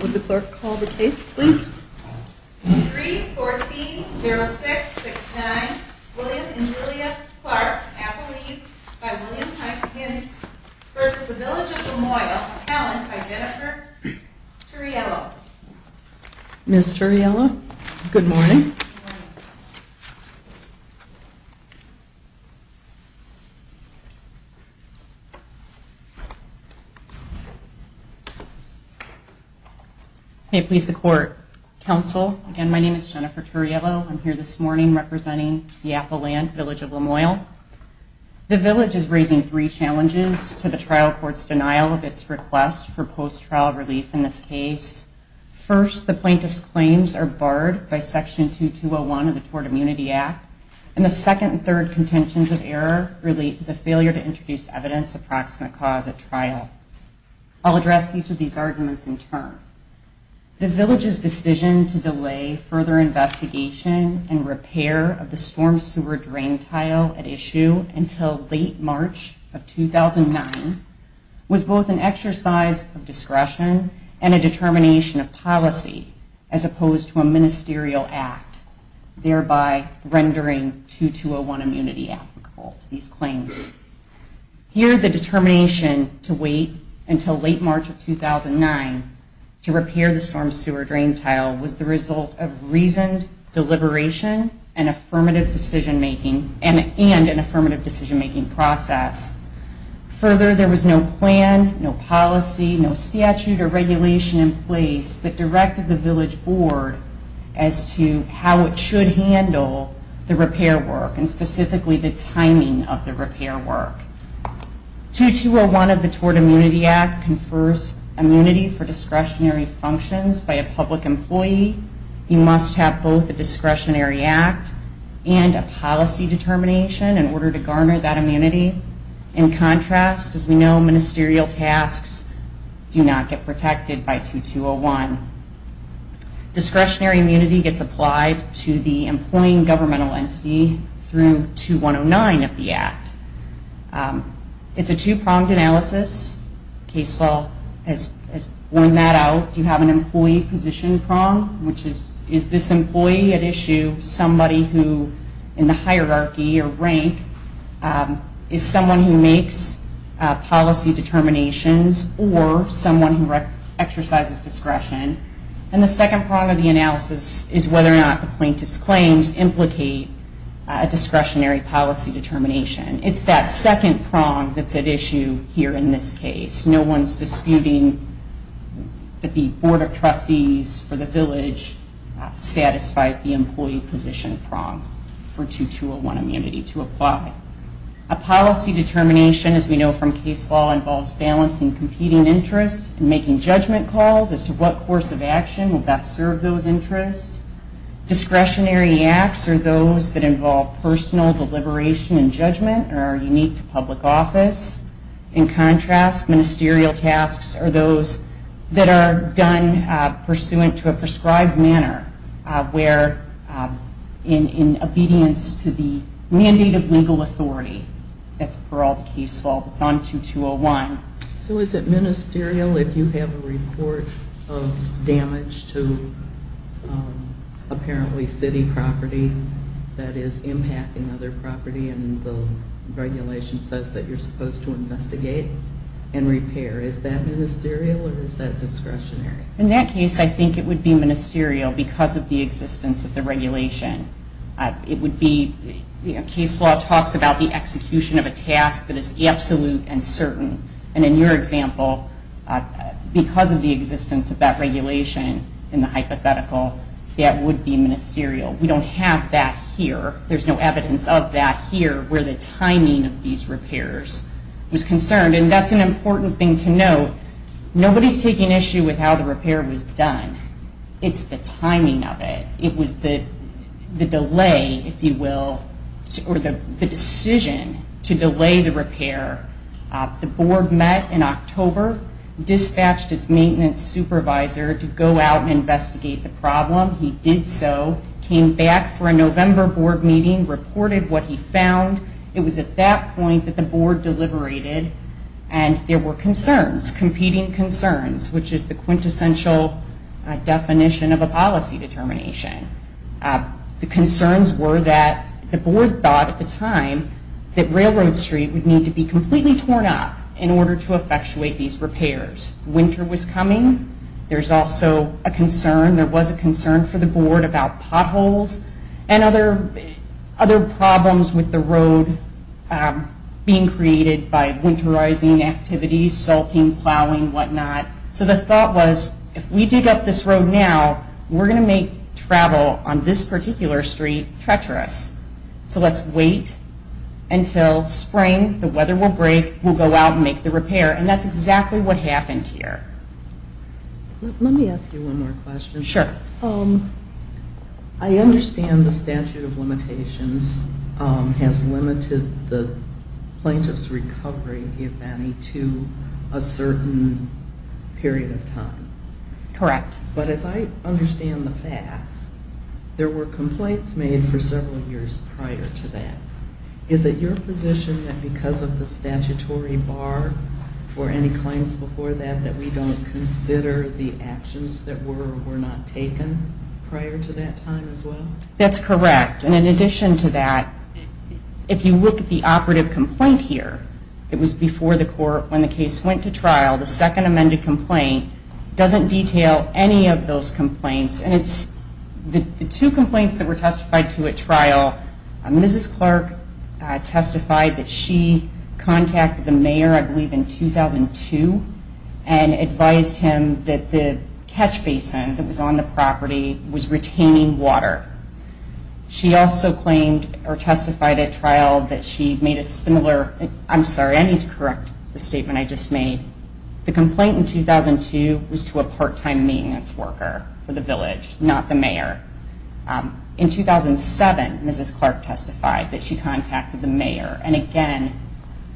Would the clerk call the case, please? 3-14-06-69, William and Julia Clark, athletes, by William Heitkens v. The Village of LaMoille, talent by Jennifer Turriello. Ms. Turriello, good morning. May it please the Court. Counsel, again, my name is Jennifer Turriello. I'm here this morning representing the Apple Land Village of LaMoille. The Village is raising three challenges to the trial court's denial of its request for post-trial relief in this case. First, the plaintiff's claims are barred by Section 2201 of the Tort Immunity Act, and the second and third contentions of error relate to the failure to introduce evidence of proximate cause at trial. I'll address each of these arguments in turn. The Village's decision to delay further investigation and repair of the storm sewer drain tile at issue until late March of 2009 was both an exercise of discretion and a determination of policy, as opposed to a ministerial act, thereby rendering 2201 immunity applicable to these claims. Here, the determination to wait until late March of 2009 to repair the storm sewer drain tile was the result of reasoned deliberation and an affirmative decision-making process. Further, there was no plan, no policy, no statute or regulation in place that directed the Village Board as to how it should handle the repair work and specifically the timing of the repair work. 2201 of the Tort Immunity Act confers immunity for discretionary functions by a public employee. You must have both a discretionary act and a policy determination in order to garner that immunity. In contrast, as we know, ministerial tasks do not get protected by 2201. Discretionary immunity gets applied to the employing governmental entity through 2109 of the Act. It's a two-pronged analysis. Case law has worn that out. You have an employee position prong, which is, is this employee at issue somebody who, in the hierarchy or rank, is someone who makes policy determinations or someone who exercises discretion. And the second prong of the analysis is whether or not the plaintiff's claims implicate a discretionary policy determination. It's that second prong that's at issue here in this case. No one's disputing that the Board of Trustees for the Village satisfies the employee position prong for 2201 immunity to apply. A policy determination, as we know from case law, involves balancing competing interests and making judgment calls as to what course of action will best serve those interests. Discretionary acts are those that involve personal deliberation and judgment and are unique to public office. In contrast, ministerial tasks are those that are done pursuant to a prescribed manner where in obedience to the mandate of legal authority, that's for all the case law that's on 2201. So is it ministerial if you have a report of damage to apparently city property that is impacting other property and the regulation says that you're supposed to investigate and repair? Is that ministerial or is that discretionary? In that case, I think it would be ministerial because of the existence of the regulation. Case law talks about the execution of a task that is absolute and certain. And in your example, because of the existence of that regulation in the hypothetical, that would be ministerial. We don't have that here. There's no evidence of that here where the timing of these repairs was concerned. And that's an important thing to note. Nobody's taking issue with how the repair was done. It's the timing of it. It was the delay, if you will, or the decision to delay the repair. The board met in October, dispatched its maintenance supervisor to go out and investigate the problem. He did so, came back for a November board meeting, reported what he found. It was at that point that the board deliberated and there were concerns, competing concerns, which is the quintessential definition of a policy determination. The concerns were that the board thought at the time that Railroad Street would need to be completely torn up in order to effectuate these repairs. Winter was coming. There's also a concern. There's a concern for the board about potholes and other problems with the road being created by winterizing activities, salting, plowing, whatnot. So the thought was, if we dig up this road now, we're going to make travel on this particular street treacherous. So let's wait until spring. The weather will break. We'll go out and make the repair. And that's exactly what happened here. Let me ask you one more question. Sure. I understand the statute of limitations has limited the plaintiff's recovery, if any, to a certain period of time. Correct. But as I understand the facts, there were complaints made for several years prior to that. Is it your position that because of the statutory bar for any claims before that, that we don't consider the actions that were or were not taken prior to that time as well? That's correct. And in addition to that, if you look at the operative complaint here, it was before the court when the case went to trial. The second amended complaint doesn't detail any of those complaints. And it's the two complaints that were testified to at trial, Mrs. Clark testified that she contacted the mayor, I believe, in 2002, and advised him that the catch basin that was on the property was retaining water. She also claimed or testified at trial that she made a similar ‑‑ I'm sorry, I need to correct the statement I just made. The complaint in 2002 was to a part‑time maintenance worker for the village, not the mayor. In 2007, Mrs. Clark testified that she contacted the mayor and again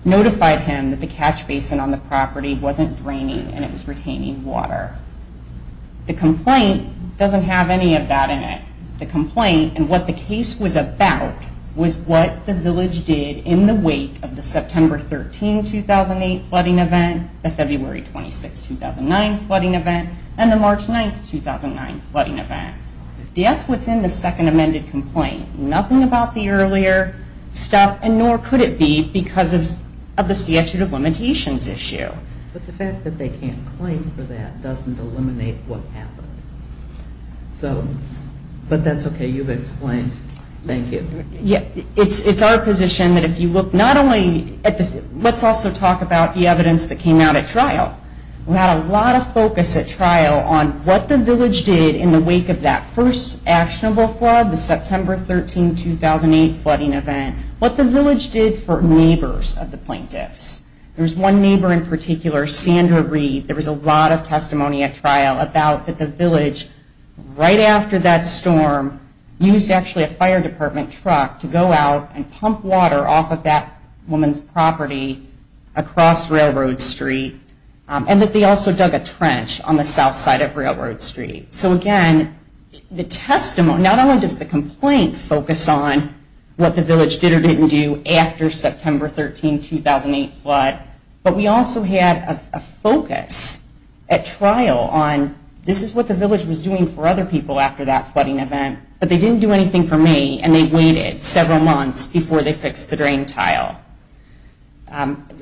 notified him that the catch basin on the property wasn't draining and it was retaining water. The complaint doesn't have any of that in it. The complaint and what the case was about was what the village did in the wake of the September 13, 2008, flooding event, the February 26, 2009, flooding event, and the March 9, 2009, flooding event. That's what's in the second amended complaint. Nothing about the earlier stuff and nor could it be because of the statute of limitations issue. But the fact that they can't claim for that doesn't eliminate what happened. So, but that's okay, you've explained. Thank you. Yeah, it's our position that if you look not only at this, let's also talk about the evidence that came out at trial. We had a lot of focus at trial on what the village did in the wake of that first actionable flood, the September 13, 2008, flooding event, what the village did for neighbors of the plaintiffs. There was one neighbor in particular, Sandra Reed, there was a lot of testimony at trial about the village right after that storm used actually a fire department truck to go out and pump water off of that woman's property across Railroad Street. And that they also dug a trench on the south side of Railroad Street. So again, the testimony, not only does the complaint focus on what the village did or didn't do after September 13, 2008 flood, but we also had a focus at trial on this is what the village was doing for other people after that flooding event, but they didn't do anything for me and they waited several months before they fixed the drain tile.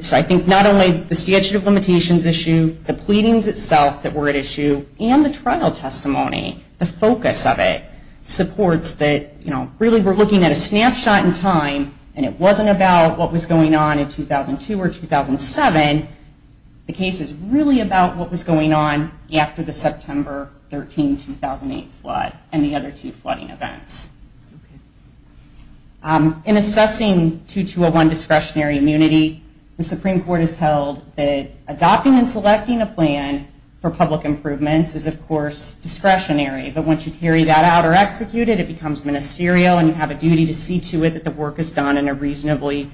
So I think not only the statute of limitations issue, the pleadings itself that were at issue, and the trial testimony, the focus of it supports that really we're looking at a snapshot in time and it wasn't about what was going on in 2002 or 2007. The case is really about what was going on after the September 13, 2008 flood and the other two flooding events. In assessing 2201 discretionary immunity, the Supreme Court has held that adopting and selecting a plan for public improvements is of course discretionary, but once you carry that out or execute it, it becomes ministerial and you have a duty to see to it that the work is done in a reasonably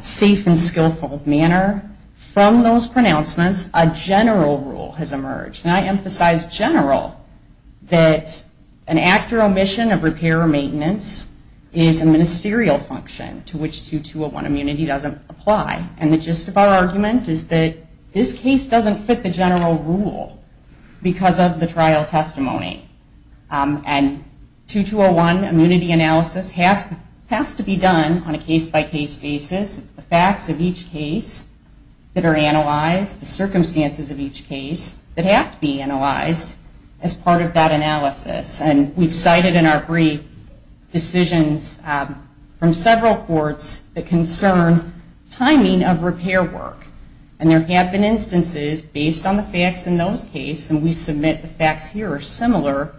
safe and skillful manner. From those pronouncements, a general rule has emerged, and I emphasize general, that an act or omission of repair or maintenance is a ministerial function to which 2201 immunity doesn't apply. And the gist of our argument is that this case doesn't fit the general rule because of the trial testimony. And 2201 immunity analysis has to be done on a case-by-case basis. It's the facts of each case that are analyzed, the circumstances of each case that have to be analyzed as part of that analysis. And we've cited in our brief decisions from several courts that concern timing of repair work. And there have been instances based on the facts in those cases, and we submit the facts here are similar,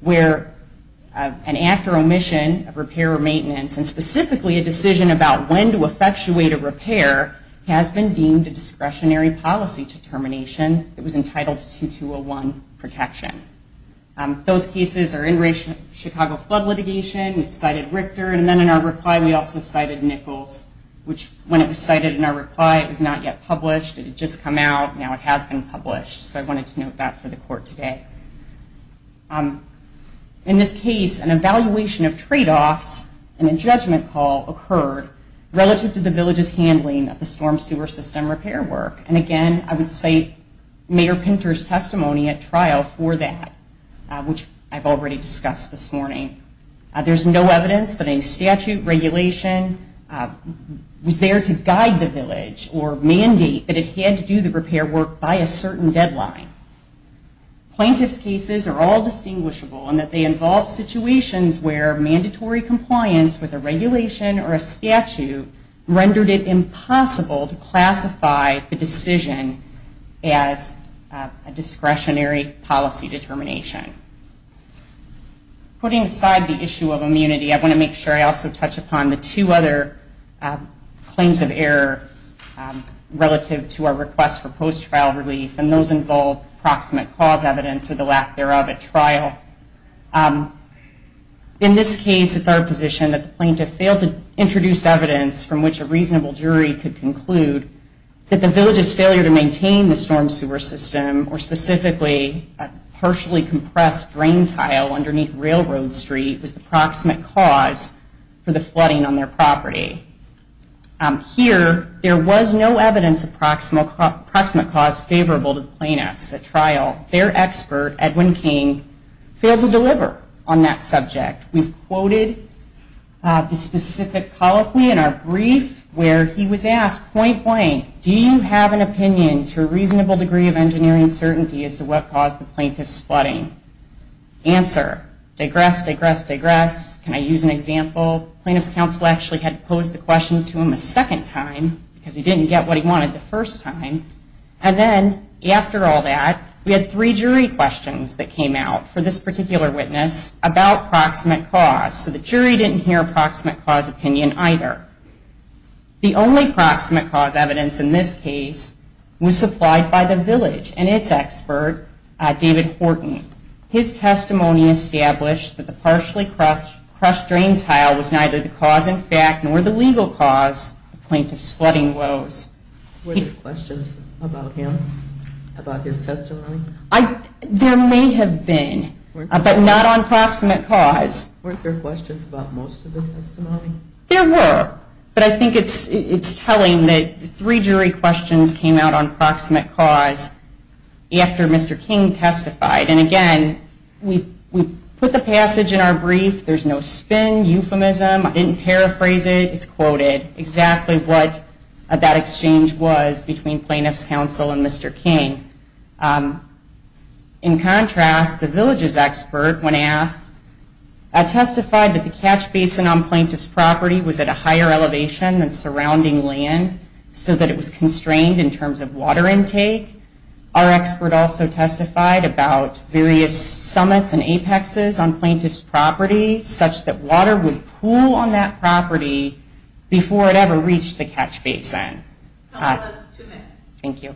where an act or omission of repair or maintenance, and specifically a decision about when to effectuate a repair, has been deemed a discretionary policy determination that was entitled to 2201 protection. Those cases are in Chicago flood litigation. We've cited Richter, and then in our reply we also cited Nichols, which when it was cited in our reply, it was not yet published. It had just come out. Now it has been published. So I wanted to note that for the court today. In this case, an evaluation of tradeoffs and a judgment call occurred relative to the village's handling of the storm sewer system repair work. And again, I would cite Mayor Pinter's testimony at trial for that, which I've already discussed this morning. There's no evidence that a statute regulation was there to guide the village or mandate that it had to do the repair work by a certain deadline. Plaintiff's cases are all distinguishable in that they involve situations where mandatory compliance with a regulation or a statute rendered it impossible to classify the decision as a discretionary policy determination. Putting aside the issue of immunity, I want to make sure I also touch upon the two other claims of error relative to our request for post-trial relief, and those involve proximate cause evidence or the lack thereof at trial. In this case, it's our position that the plaintiff failed to introduce evidence from which a reasonable jury could conclude that the village's failure to maintain the storm sewer system, or specifically a partially compressed drain tile underneath Railroad Street, was the proximate cause for the flooding on their property. Here, there was no evidence of proximate cause favorable to the plaintiffs at trial. Their expert, Edwin King, failed to deliver on that subject. We've quoted the specific policy in our brief where he was asked point blank, do you have an opinion to a reasonable degree of engineering certainty as to what caused the plaintiff's flooding? Answer, digress, digress, digress. Can I use an example? Plaintiff's counsel actually had to pose the question to him a second time because he didn't get what he wanted the first time, and then after all that, we had three jury questions that came out for this particular witness about proximate cause, so the jury didn't hear a proximate cause opinion either. The only proximate cause evidence in this case was supplied by the village and its expert, David Horton. His testimony established that the partially crushed drain tile was neither the cause in fact nor the legal cause of plaintiff's flooding woes. Were there questions about him, about his testimony? There may have been, but not on proximate cause. Weren't there questions about most of the testimony? There were, but I think it's telling that three jury questions came out on proximate cause after Mr. King testified. And again, we put the passage in our brief. There's no spin, euphemism. I didn't paraphrase it. It's quoted exactly what that exchange was between plaintiff's counsel and Mr. King. In contrast, the village's expert, when asked, testified that the catch basin on plaintiff's property was at a higher elevation than surrounding land so that it was constrained in terms of water intake. Our expert also testified about various summits and apexes on plaintiff's property such that water would pool on that property before it ever reached the catch basin. That's two minutes. Thank you.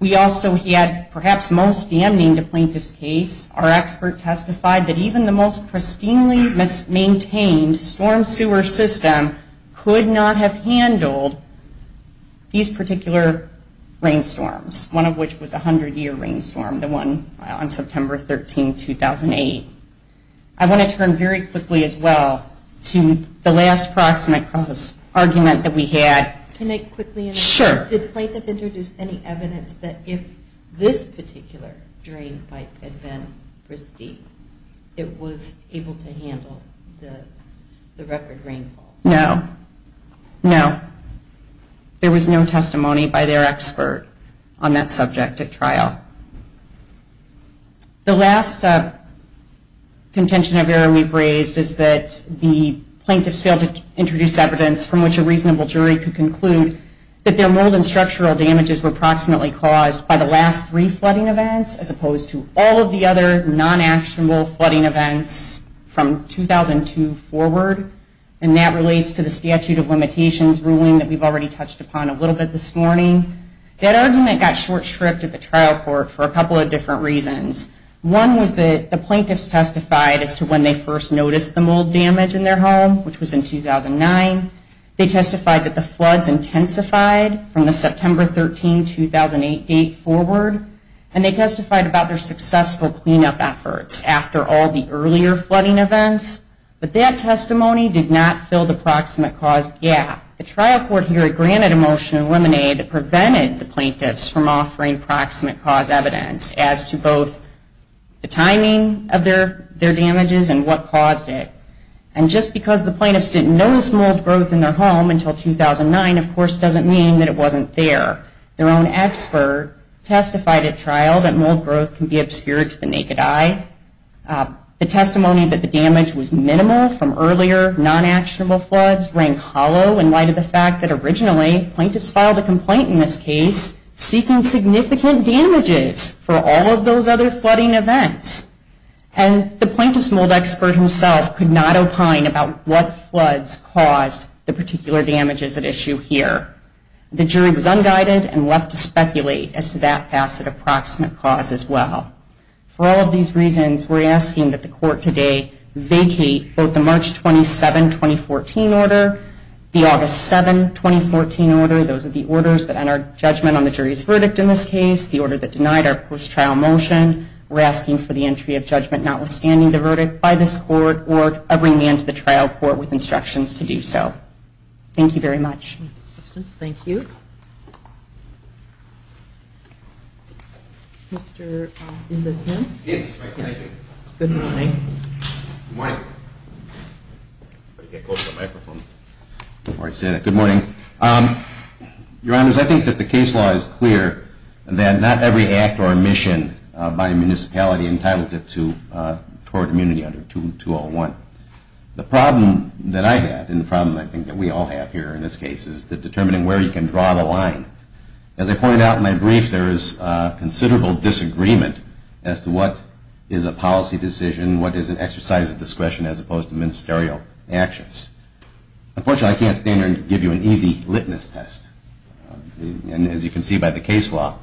We also had perhaps most damning to plaintiff's case. Our expert testified that even the most pristinely maintained storm sewer system could not have handled these particular rainstorms, one of which was a 100-year rainstorm, the one on September 13, 2008. I want to turn very quickly as well to the last proximate cause argument that we had. Can I quickly ask? Sure. Did plaintiff introduce any evidence that if this particular drain pipe had been pristine, it was able to handle the record rainfall? No. No. There was no testimony by their expert on that subject at trial. The last contention of error we've raised is that the plaintiffs failed to introduce evidence from which a reasonable jury could conclude that their mold and structural damages were proximately caused by the last three flooding events as opposed to all of the other non-actionable flooding events from 2002 forward. And that relates to the statute of limitations ruling that we've already touched upon a little bit this morning. That argument got short-stripped at the trial court for a couple of different reasons. One was that the plaintiffs testified as to when they first noticed the mold damage in their home, which was in 2009. They testified that the floods intensified from the September 13, 2008 date forward. And they testified about their successful cleanup efforts after all the earlier flooding events. But that testimony did not fill the proximate cause gap. The trial court here granted a motion in lemonade that prevented the plaintiffs from offering proximate cause evidence as to both the timing of their damages and what caused it. And just because the plaintiffs didn't notice mold growth in their home until 2009, of course, doesn't mean that it wasn't there. Their own expert testified at trial that mold growth can be obscured to the naked eye. The testimony that the damage was minimal from earlier non-actionable floods rang hollow in light of the fact that originally, plaintiffs filed a complaint in this case seeking significant damages for all of those other flooding events. And the plaintiffs' mold expert himself could not opine about what floods caused the particular damages at issue here. The jury was unguided and left to speculate as to that facet of proximate cause as well. For all of these reasons, we're asking that the court today vacate both the March 27, 2014 order, the August 7, 2014 order, those are the orders that enter judgment on the jury's verdict in this case, the order that denied our post-trial motion. We're asking for the entry of judgment notwithstanding the verdict by this court or bring me into the trial court with instructions to do so. Thank you very much. Thank you. Thank you. Mr. Inman-Hintz? Yes, thank you. Good morning. Good morning. Before I say that, good morning. Your Honors, I think that the case law is clear that not every act or mission by a municipality entitles it toward immunity under 201. The problem that I have and the problem I think that we all have here in this case is determining where you can draw the line. As I pointed out in my brief, there is considerable disagreement as to what is a policy decision, what is an exercise of discretion as opposed to ministerial actions. Unfortunately, I can't stand here and give you an easy litmus test. And as you can see by the case law,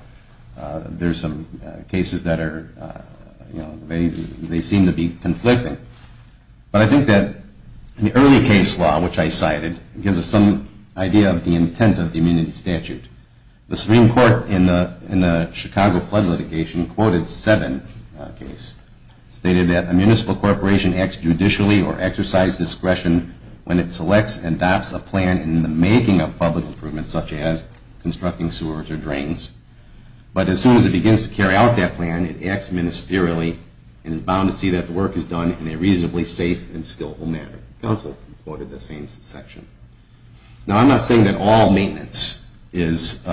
there are some cases that are, you know, they seem to be conflicting. But I think that in the early case law, which I cited, it gives us some idea of the intent of the immunity statute. The Supreme Court in the Chicago flood litigation quoted seven cases. It stated that a municipal corporation acts judicially or exercise discretion when it selects and adopts a plan in the making of public improvements such as constructing sewers or drains. But as soon as it begins to carry out that plan, it acts ministerially and is bound to see that the work is done in a reasonably safe and skillful manner. The council quoted the same section. Now, I'm not saying that all maintenance is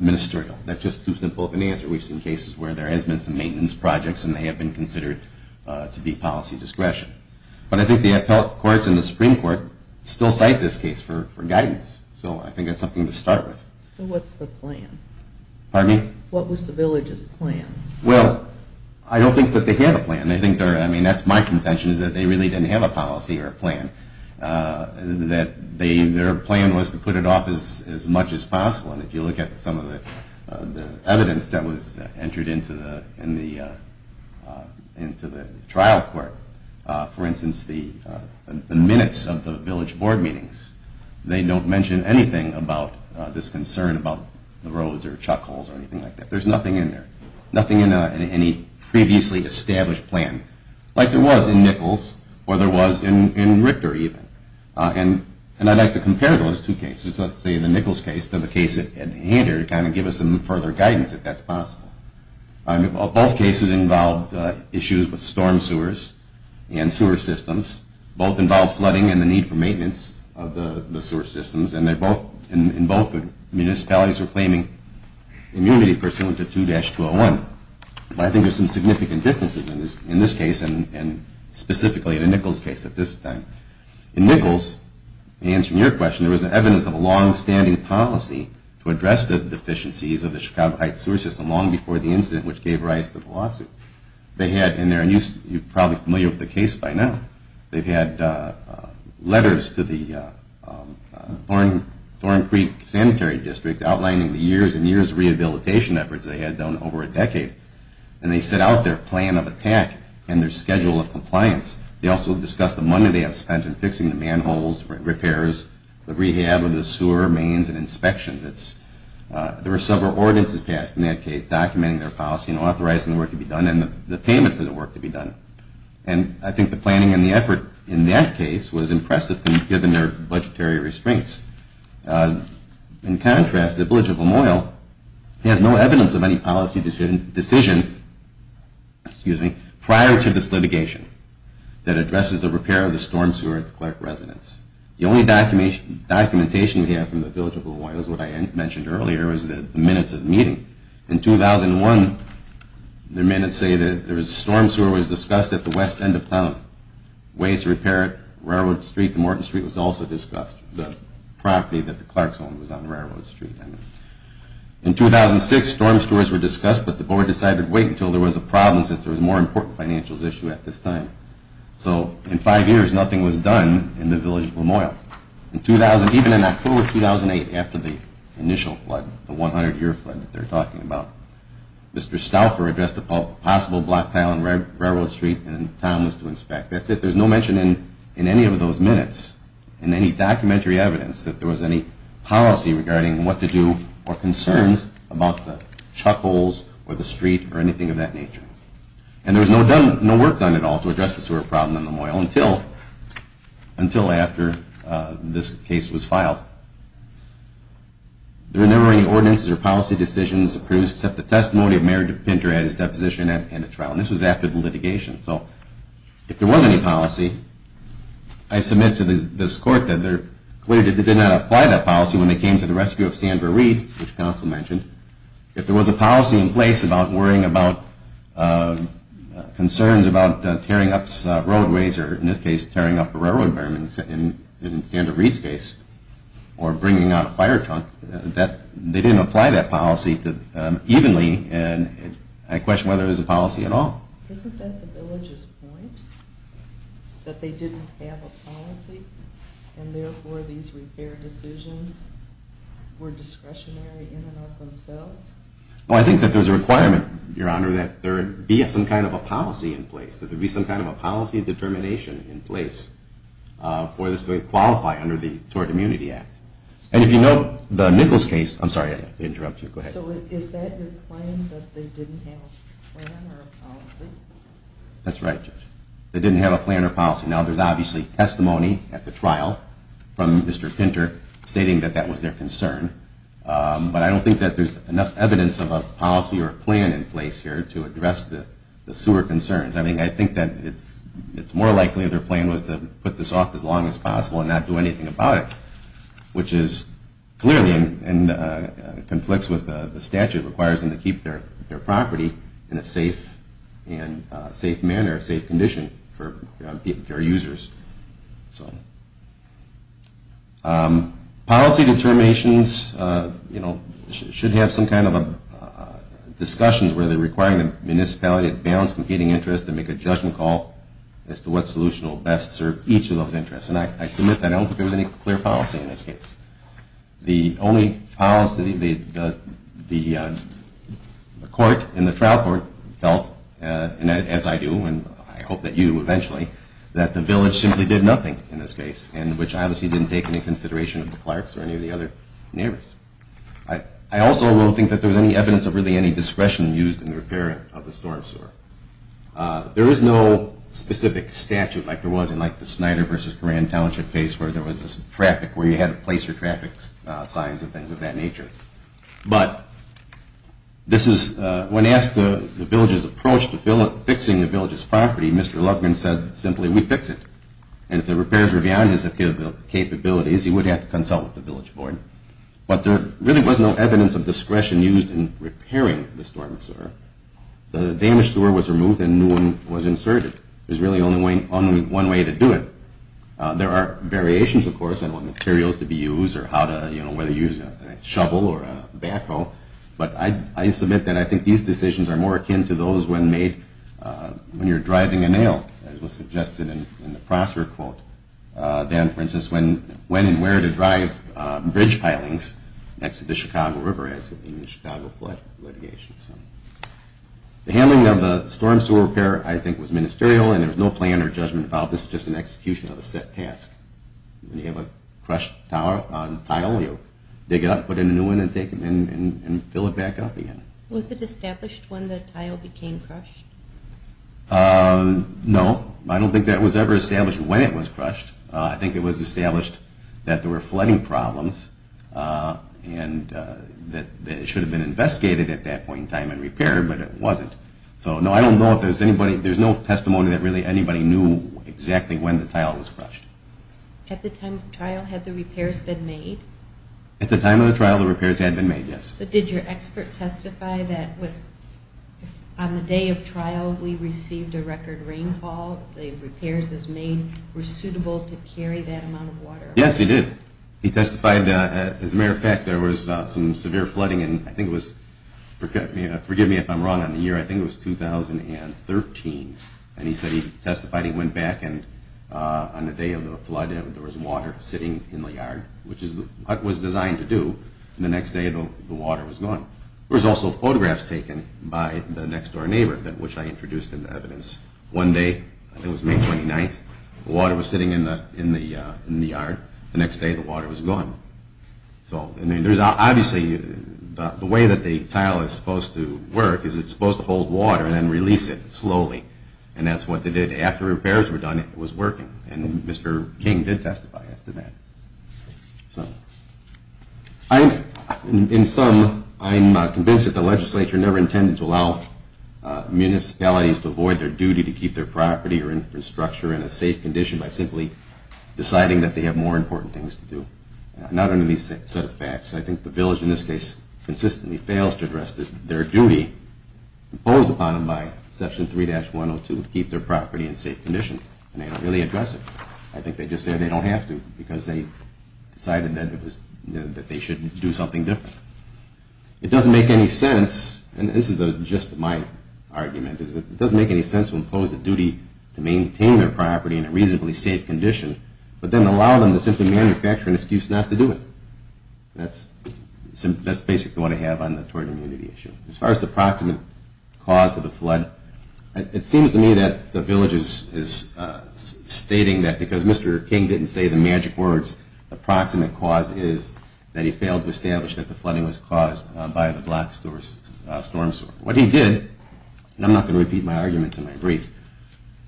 ministerial. That's just too simple of an answer. We've seen cases where there has been some maintenance projects and they have been considered to be policy discretion. But I think the appellate courts and the Supreme Court still cite this case for guidance. So I think that's something to start with. So what's the plan? Pardon me? What was the village's plan? Well, I don't think that they have a plan. I mean, that's my contention is that they really didn't have a policy or a plan. Their plan was to put it off as much as possible. And if you look at some of the evidence that was entered into the trial court, for instance, the minutes of the village board meetings, they don't mention anything about this concern about the roads or chuck holes or anything like that. There's nothing in there, nothing in any previously established plan, like there was in Nichols or there was in Richter even. And I'd like to compare those two cases, let's say the Nichols case to the case at Hander, to kind of give us some further guidance if that's possible. Both cases involved issues with storm sewers and sewer systems. Both involved flooding and the need for maintenance of the sewer systems. And both municipalities were claiming immunity pursuant to 2-201. But I think there's some significant differences in this case and specifically in the Nichols case at this time. In Nichols, answering your question, there was evidence of a longstanding policy to address the deficiencies of the Chicago Heights sewer system long before the incident, which gave rise to the lawsuit. You're probably familiar with the case by now. They've had letters to the Thorn Creek Sanitary District outlining the years and years of rehabilitation efforts they had done over a decade. And they set out their plan of attack and their schedule of compliance. They also discussed the money they had spent in fixing the manholes, repairs, the rehab of the sewer mains and inspections. There were several ordinances passed in that case documenting their policy and authorizing the work to be done and the payment for the work to be done. And I think the planning and the effort in that case was impressive given their budgetary restraints. In contrast, the Village of Lamoille has no evidence of any policy decision prior to this litigation that addresses the repair of the storm sewer at the clerk residence. The only documentation we have from the Village of Lamoille is what I mentioned earlier was the minutes of the meeting. In 2001, the minutes say that the storm sewer was discussed at the west end of town. Ways to repair it, Railroad Street, Morton Street was also discussed. The property that the clerks owned was on Railroad Street. In 2006, storm sewers were discussed, but the board decided to wait until there was a problem since there was a more important financial issue at this time. So in five years, nothing was done in the Village of Lamoille. Even in October 2008, after the initial flood, the 100-year flood that they're talking about, Mr. Stouffer addressed the possible black tile on Railroad Street and the town was to inspect. That's it. There's no mention in any of those minutes in any documentary evidence that there was any policy regarding what to do or concerns about the chuck holes or the street or anything of that nature. And there was no work done at all to address the sewer problem in Lamoille until after this case was filed. There were never any ordinances or policy decisions produced except the testimony of Mayor DePinter at his deposition and at trial, and this was after the litigation. So if there was any policy, I submit to this court that they're clear that they did not apply that policy when they came to the rescue of Sandra Reed, which counsel mentioned. If there was a policy in place about worrying about concerns about tearing up roadways or in this case tearing up a railroad berm, in Sandra Reed's case, or bringing out a fire trunk, they didn't apply that policy evenly and I question whether it was a policy at all. Isn't that the Village's point, that they didn't have a policy and therefore these repair decisions were discretionary in and of themselves? Well, I think that there's a requirement, Your Honor, that there be some kind of a policy in place, that there be some kind of a policy determination in place for this to qualify under the Tort Immunity Act. And if you note the Nichols case, I'm sorry to interrupt you, go ahead. So is that your claim that they didn't have a plan or a policy? That's right, Judge. They didn't have a plan or policy. Now there's obviously testimony at the trial from Mr. Pinter stating that that was their concern, but I don't think that there's enough evidence of a policy or a plan in place here to address the sewer concerns. I mean, I think that it's more likely their plan was to put this off as long as possible and not do anything about it, which is clearly, and conflicts with the statute, requires them to keep their property in a safe manner, a safe condition for their users. Policy determinations should have some kind of a discussion where they're requiring the municipality to balance competing interests and make a judgment call as to what solution will best serve each of those interests. And I submit that I don't think there was any clear policy in this case. The only policy the court in the trial court felt, and as I do, and I hope that you eventually, that the village simply did nothing in this case, and which obviously didn't take any consideration of the clerks or any of the other neighbors. I also don't think that there was any evidence of really any discretion used in the repair of the storm sewer. There is no specific statute like there was in like the Snyder versus Coran Township case where there was this traffic where you had a placer traffic signs and things of that nature. But this is, when asked the village's approach to fixing the village's property, Mr. Lugman said simply, we fix it. And if the repairs were beyond his capabilities, he would have to consult with the village board. But there really was no evidence of discretion used in repairing the storm sewer. The damaged sewer was removed and new one was inserted. There's really only one way to do it. There are variations, of course, on what materials to be used or whether to use a shovel or a backhoe. But I submit that I think these decisions are more akin to those when made when you're driving a nail, as was suggested in the Prosser quote than, for instance, when and where to drive bridge pilings next to the Chicago River as in the Chicago flood litigation. The handling of the storm sewer repair, I think, was ministerial and there was no plan or judgment about this. It was just an execution of a set task. When you have a crushed tile, you dig it up, put in a new one, and fill it back up again. Was it established when the tile became crushed? No, I don't think that was ever established when it was crushed. I think it was established that there were flooding problems and that it should have been investigated at that point in time and repaired, but it wasn't. So, no, I don't know if there's anybody, there's no testimony that really anybody knew exactly when the tile was crushed. At the time of the trial, had the repairs been made? At the time of the trial, the repairs had been made, yes. So did your expert testify that on the day of trial we received a record rainfall, the repairs that were made were suitable to carry that amount of water? Yes, he did. He testified that, as a matter of fact, there was some severe flooding in, I think it was, forgive me if I'm wrong on the year, I think it was 2013, and he testified he went back and on the day of the flood there was water sitting in the yard, which is what was designed to do, and the next day the water was gone. There was also photographs taken by the next door neighbor which I introduced in the evidence. One day, I think it was May 29th, the water was sitting in the yard. The next day the water was gone. Obviously, the way that the tile is supposed to work is it's supposed to hold water and then release it slowly. And that's what they did. After repairs were done, it was working. And Mr. King did testify after that. In sum, I'm convinced that the legislature never intended to allow municipalities to avoid their duty to keep their property or infrastructure in a safe condition by simply deciding that they have more important things to do. Not under these set of facts. I think the village, in this case, consistently fails to address their duty imposed upon them by Section 3-102 to keep their property in safe condition, and they don't really address it. I think they just say they don't have to because they decided that they shouldn't do something different. It doesn't make any sense, and this is just my argument. It doesn't make any sense to impose the duty to maintain their property in a reasonably safe condition, but then allow them to simply manufacture an excuse not to do it. That's basically what I have on the torrid immunity issue. As far as the proximate cause of the flood, it seems to me that the village is stating that because Mr. King didn't say the magic words, the proximate cause is that he failed to establish that the flooding was caused by the black storm sewer. What he did, and I'm not going to repeat my arguments in my brief,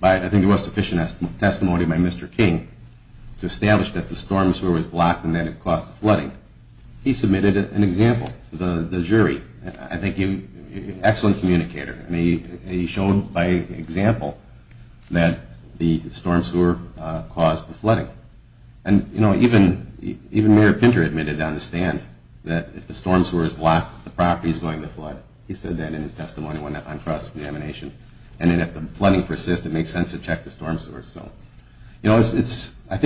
but I think there was sufficient testimony by Mr. King to establish that the storm sewer was blocked and that it caused the flooding. He submitted an example to the jury. I think he's an excellent communicator. Even Mayor Pinter admitted on the stand that if the storm sewer is blocked, the property is going to flood. He said that in his testimony on cross-examination. If the flooding persists, it makes sense to check the storm sewer. I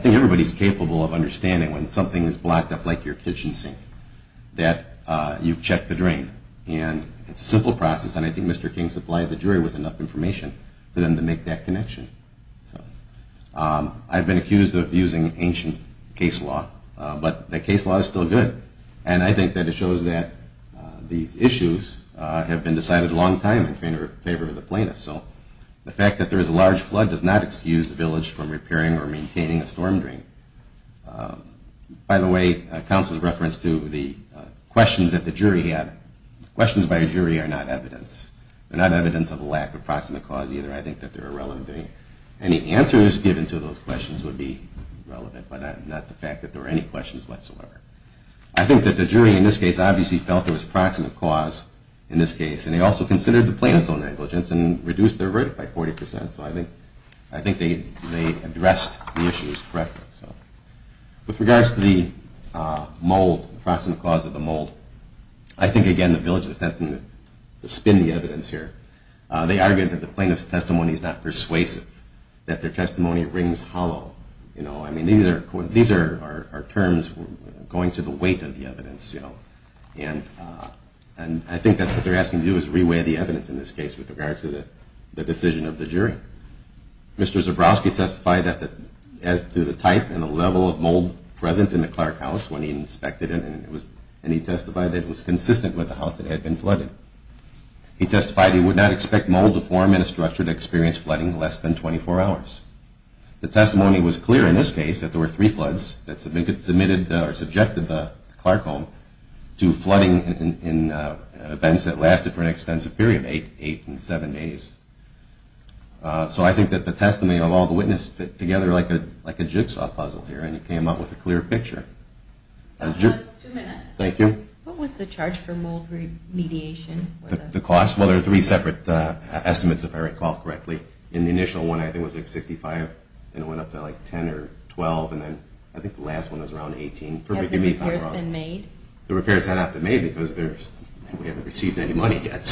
think everybody is capable of understanding when something is blocked up like your kitchen sink that you've checked the drain. It's a simple process, and I think Mr. King supplied the jury with enough information for them to make that connection. I've been accused of abusing ancient case law, but the case law is still good, and I think that it shows that these issues have been decided a long time in favor of the plaintiffs. The fact that there is a large flood does not excuse the village from repairing or maintaining a storm drain. By the way, Council's reference to the questions that the jury had, questions by a jury are not evidence. They're not evidence of a lack of proximate cause either. I think that they're irrelevant. Any answers given to those questions would be relevant, but not the fact that there were any questions whatsoever. I think that the jury in this case obviously felt there was proximate cause in this case, and they also considered the plaintiff's own negligence and reduced their verdict by 40%, so I think they addressed the issues correctly. With regards to the mold, proximate cause of the mold, I think again the village is attempting to spin the evidence here. They argued that the plaintiff's testimony is not persuasive, that their testimony rings hollow. I mean, these are terms going to the weight of the evidence, and I think that what they're asking to do is re-weigh the evidence in this case with regards to the decision of the jury. Mr. Zabrowski testified as to the type and the level of mold present in the Clark house when he inspected it, and he testified that it was consistent with the house that had been flooded. He testified he would not expect mold to form in a structure to experience flooding less than 24 hours. The testimony was clear in this case that there were three floods that subjected the Clark home to flooding in events that lasted for an extensive period, eight and seven days. So I think that the testimony of all the witnesses fit together like a jigsaw puzzle here, and he came up with a clear picture. That's two minutes. Thank you. What was the charge for mold remediation? The cost? Well, there are three separate estimates, if I recall correctly. In the initial one, I think it was like 65, and it went up to like 10 or 12, and then I think the last one was around 18. Have the repairs been made? The repairs have not been made because we haven't received any money yet.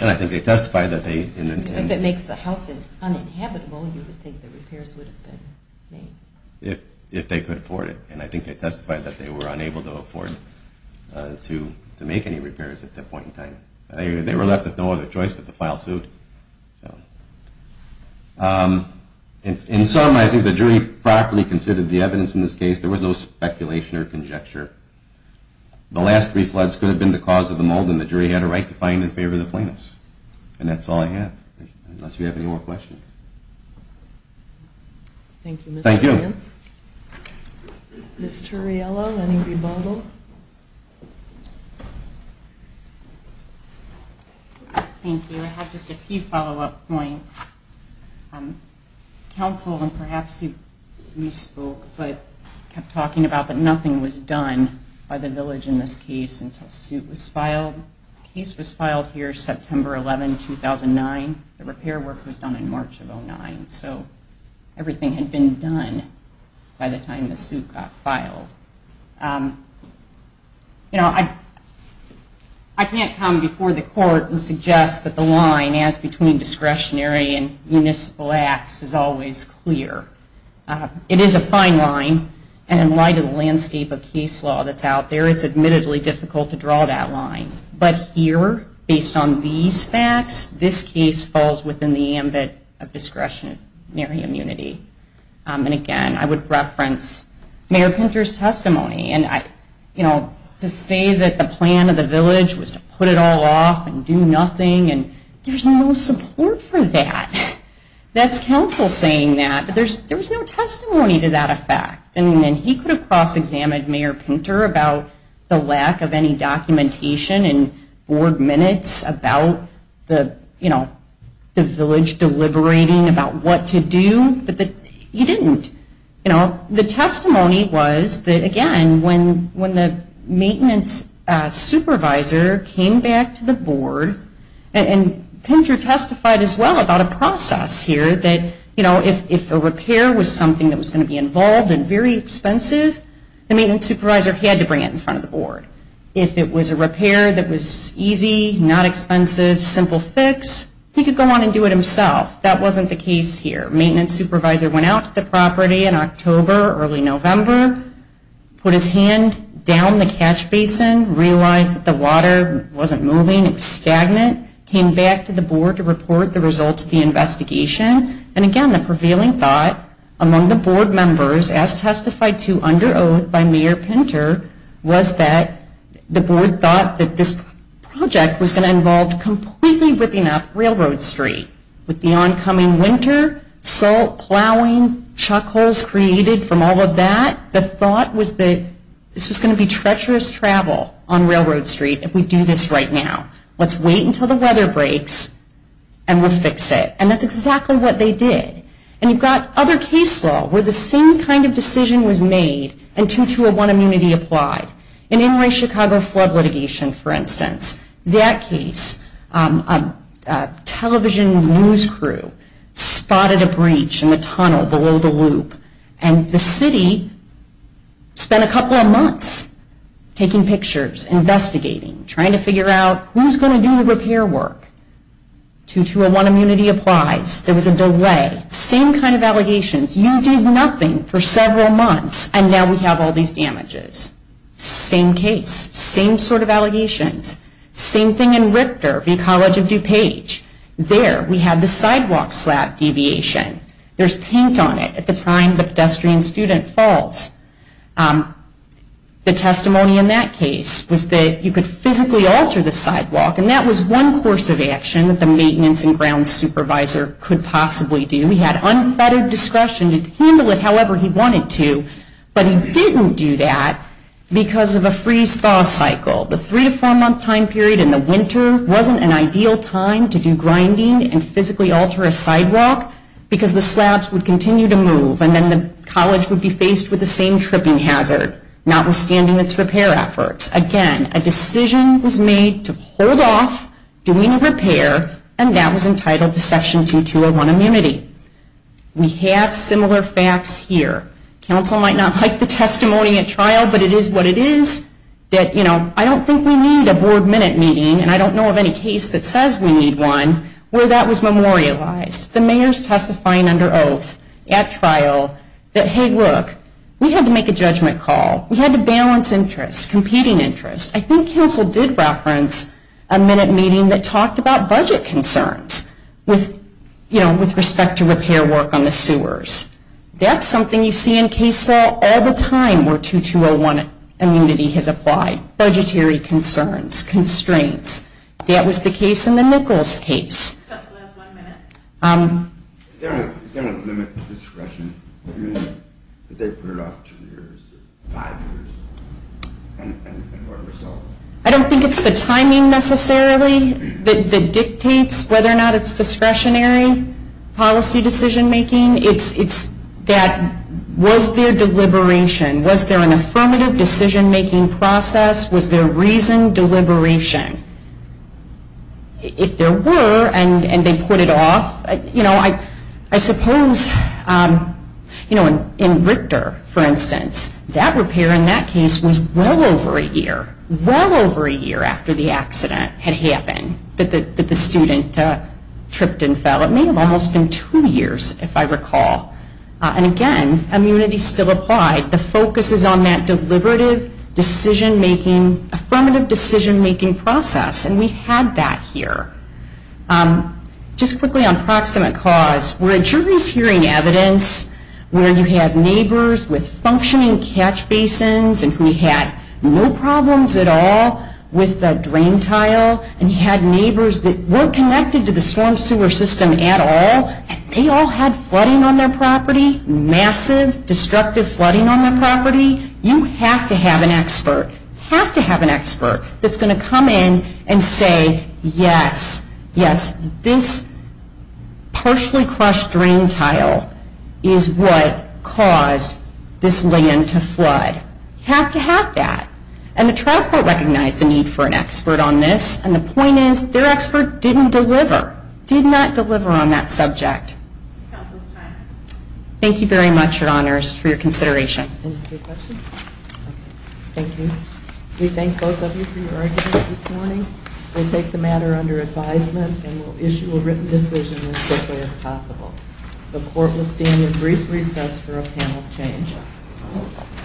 And I think they testified that they... If it makes the house uninhabitable, you would think the repairs would have been made. If they could afford it, and I think they testified that they were unable to afford to make any repairs at that point in time. They were left with no other choice but to file suit. In summary, I think the jury properly considered the evidence in this case. There was no speculation or conjecture. The last three floods could have been the cause of the mold, and the jury had a right to find in favor of the plaintiffs. And that's all I have, unless you have any more questions. Thank you, Mr. Vance. Thank you. Ms. Turriello, any rebuttal? Thank you. I have just a few follow-up points. Counsel, and perhaps you spoke, but kept talking about that nothing was done by the village in this case until suit was filed. The case was filed here September 11, 2009. The repair work was done in March of 2009. So everything had been done by the time the suit got filed. You know, I can't come before the court and suggest that the line as between discretionary and municipal acts is always clear. It is a fine line, and in light of the landscape of case law that's out there, it's admittedly difficult to draw that line. But here, based on these facts, this case falls within the ambit of discretionary immunity. And again, I would reference Mayor Pinter's testimony. To say that the plan of the village was to put it all off and do nothing, there's no support for that. That's counsel saying that, but there was no testimony to that effect. And he could have cross-examined Mayor Pinter about the lack of any documentation and board minutes about the village deliberating about what to do. But you didn't. The testimony was that, again, when the maintenance supervisor came back to the board, and Pinter testified as well about a process here, that if a repair was something that was going to be involved and very expensive, the maintenance supervisor had to bring it in front of the board. If it was a repair that was easy, not expensive, simple fix, he could go on and do it himself. That wasn't the case here. Maintenance supervisor went out to the property in October, early November, put his hand down the catch basin, realized that the water wasn't moving, it was stagnant, came back to the board to report the results of the investigation. And again, the prevailing thought among the board members, as testified to under oath by Mayor Pinter, was that the board thought that this project was going to involve completely ripping up Railroad Street. With the oncoming winter, salt plowing, chuck holes created from all of that, the thought was that this was going to be treacherous travel on Railroad Street if we do this right now. Let's wait until the weather breaks, and we'll fix it. And that's exactly what they did. And you've got other case law where the same kind of decision was made and 2-2-1 immunity applied. In Illinois-Chicago flood litigation, for instance, that case, a television news crew spotted a breach in the tunnel below the loop. And the city spent a couple of months taking pictures, investigating, trying to figure out who's going to do the repair work. 2-2-1 immunity applies. There was a delay. Same kind of allegations. You did nothing for several months, and now we have all these damages. Same case, same sort of allegations. Same thing in Richter v. College of DuPage. There, we have the sidewalk slab deviation. There's paint on it at the time the pedestrian student falls. The testimony in that case was that you could physically alter the sidewalk, and that was one course of action that the maintenance and ground supervisor could possibly do. He had unfettered discretion to handle it however he wanted to, but he didn't do that because of a freeze-thaw cycle. The three- to four-month time period in the winter wasn't an ideal time to do grinding and physically alter a sidewalk because the slabs would continue to move, and then the college would be faced with the same tripping hazard, notwithstanding its repair efforts. Again, a decision was made to hold off doing a repair, and that was entitled to Section 2-2-1 immunity. We have similar facts here. Council might not like the testimony at trial, but it is what it is. I don't think we need a board minute meeting, and I don't know of any case that says we need one where that was memorialized. The mayor's testifying under oath at trial that, hey, look, we had to make a judgment call. We had to balance interests, competing interests. I think council did reference a minute meeting that talked about budget concerns with respect to repair work on the sewers. That's something you see in case law all the time where 2-2-0-1 immunity has applied. Budgetary concerns, constraints. That was the case in the Nichols case. I don't think it's the timing necessarily that dictates whether or not it's discretionary policy decision-making. It's that was there deliberation? Was there an affirmative decision-making process? Was there reasoned deliberation? If there were and they put it off, I suppose in Richter, for instance, that repair in that case was well over a year. Well over a year after the accident had happened that the student tripped and fell. It may have almost been two years if I recall. And again, immunity still applied. The focus is on that deliberative decision-making, affirmative decision-making process. And we had that here. Just quickly on proximate cause, we're at jury's hearing evidence where you had neighbors with functioning catch basins and who had no problems at all with the drain tile. And you had neighbors that weren't connected to the storm sewer system at all. And they all had flooding on their property, massive destructive flooding on their property. You have to have an expert. Have to have an expert that's going to come in and say, yes, yes, this partially crushed drain tile is what caused this land to flood. You have to have that. And the trial court recognized the need for an expert on this. And the point is their expert didn't deliver, did not deliver on that subject. Counsel's time. Thank you very much, Your Honors, for your consideration. Any other questions? Thank you. We thank both of you for your arguments this morning. We'll take the matter under advisement and we'll issue a written decision as quickly as possible. The court will stand in brief recess for a panel change.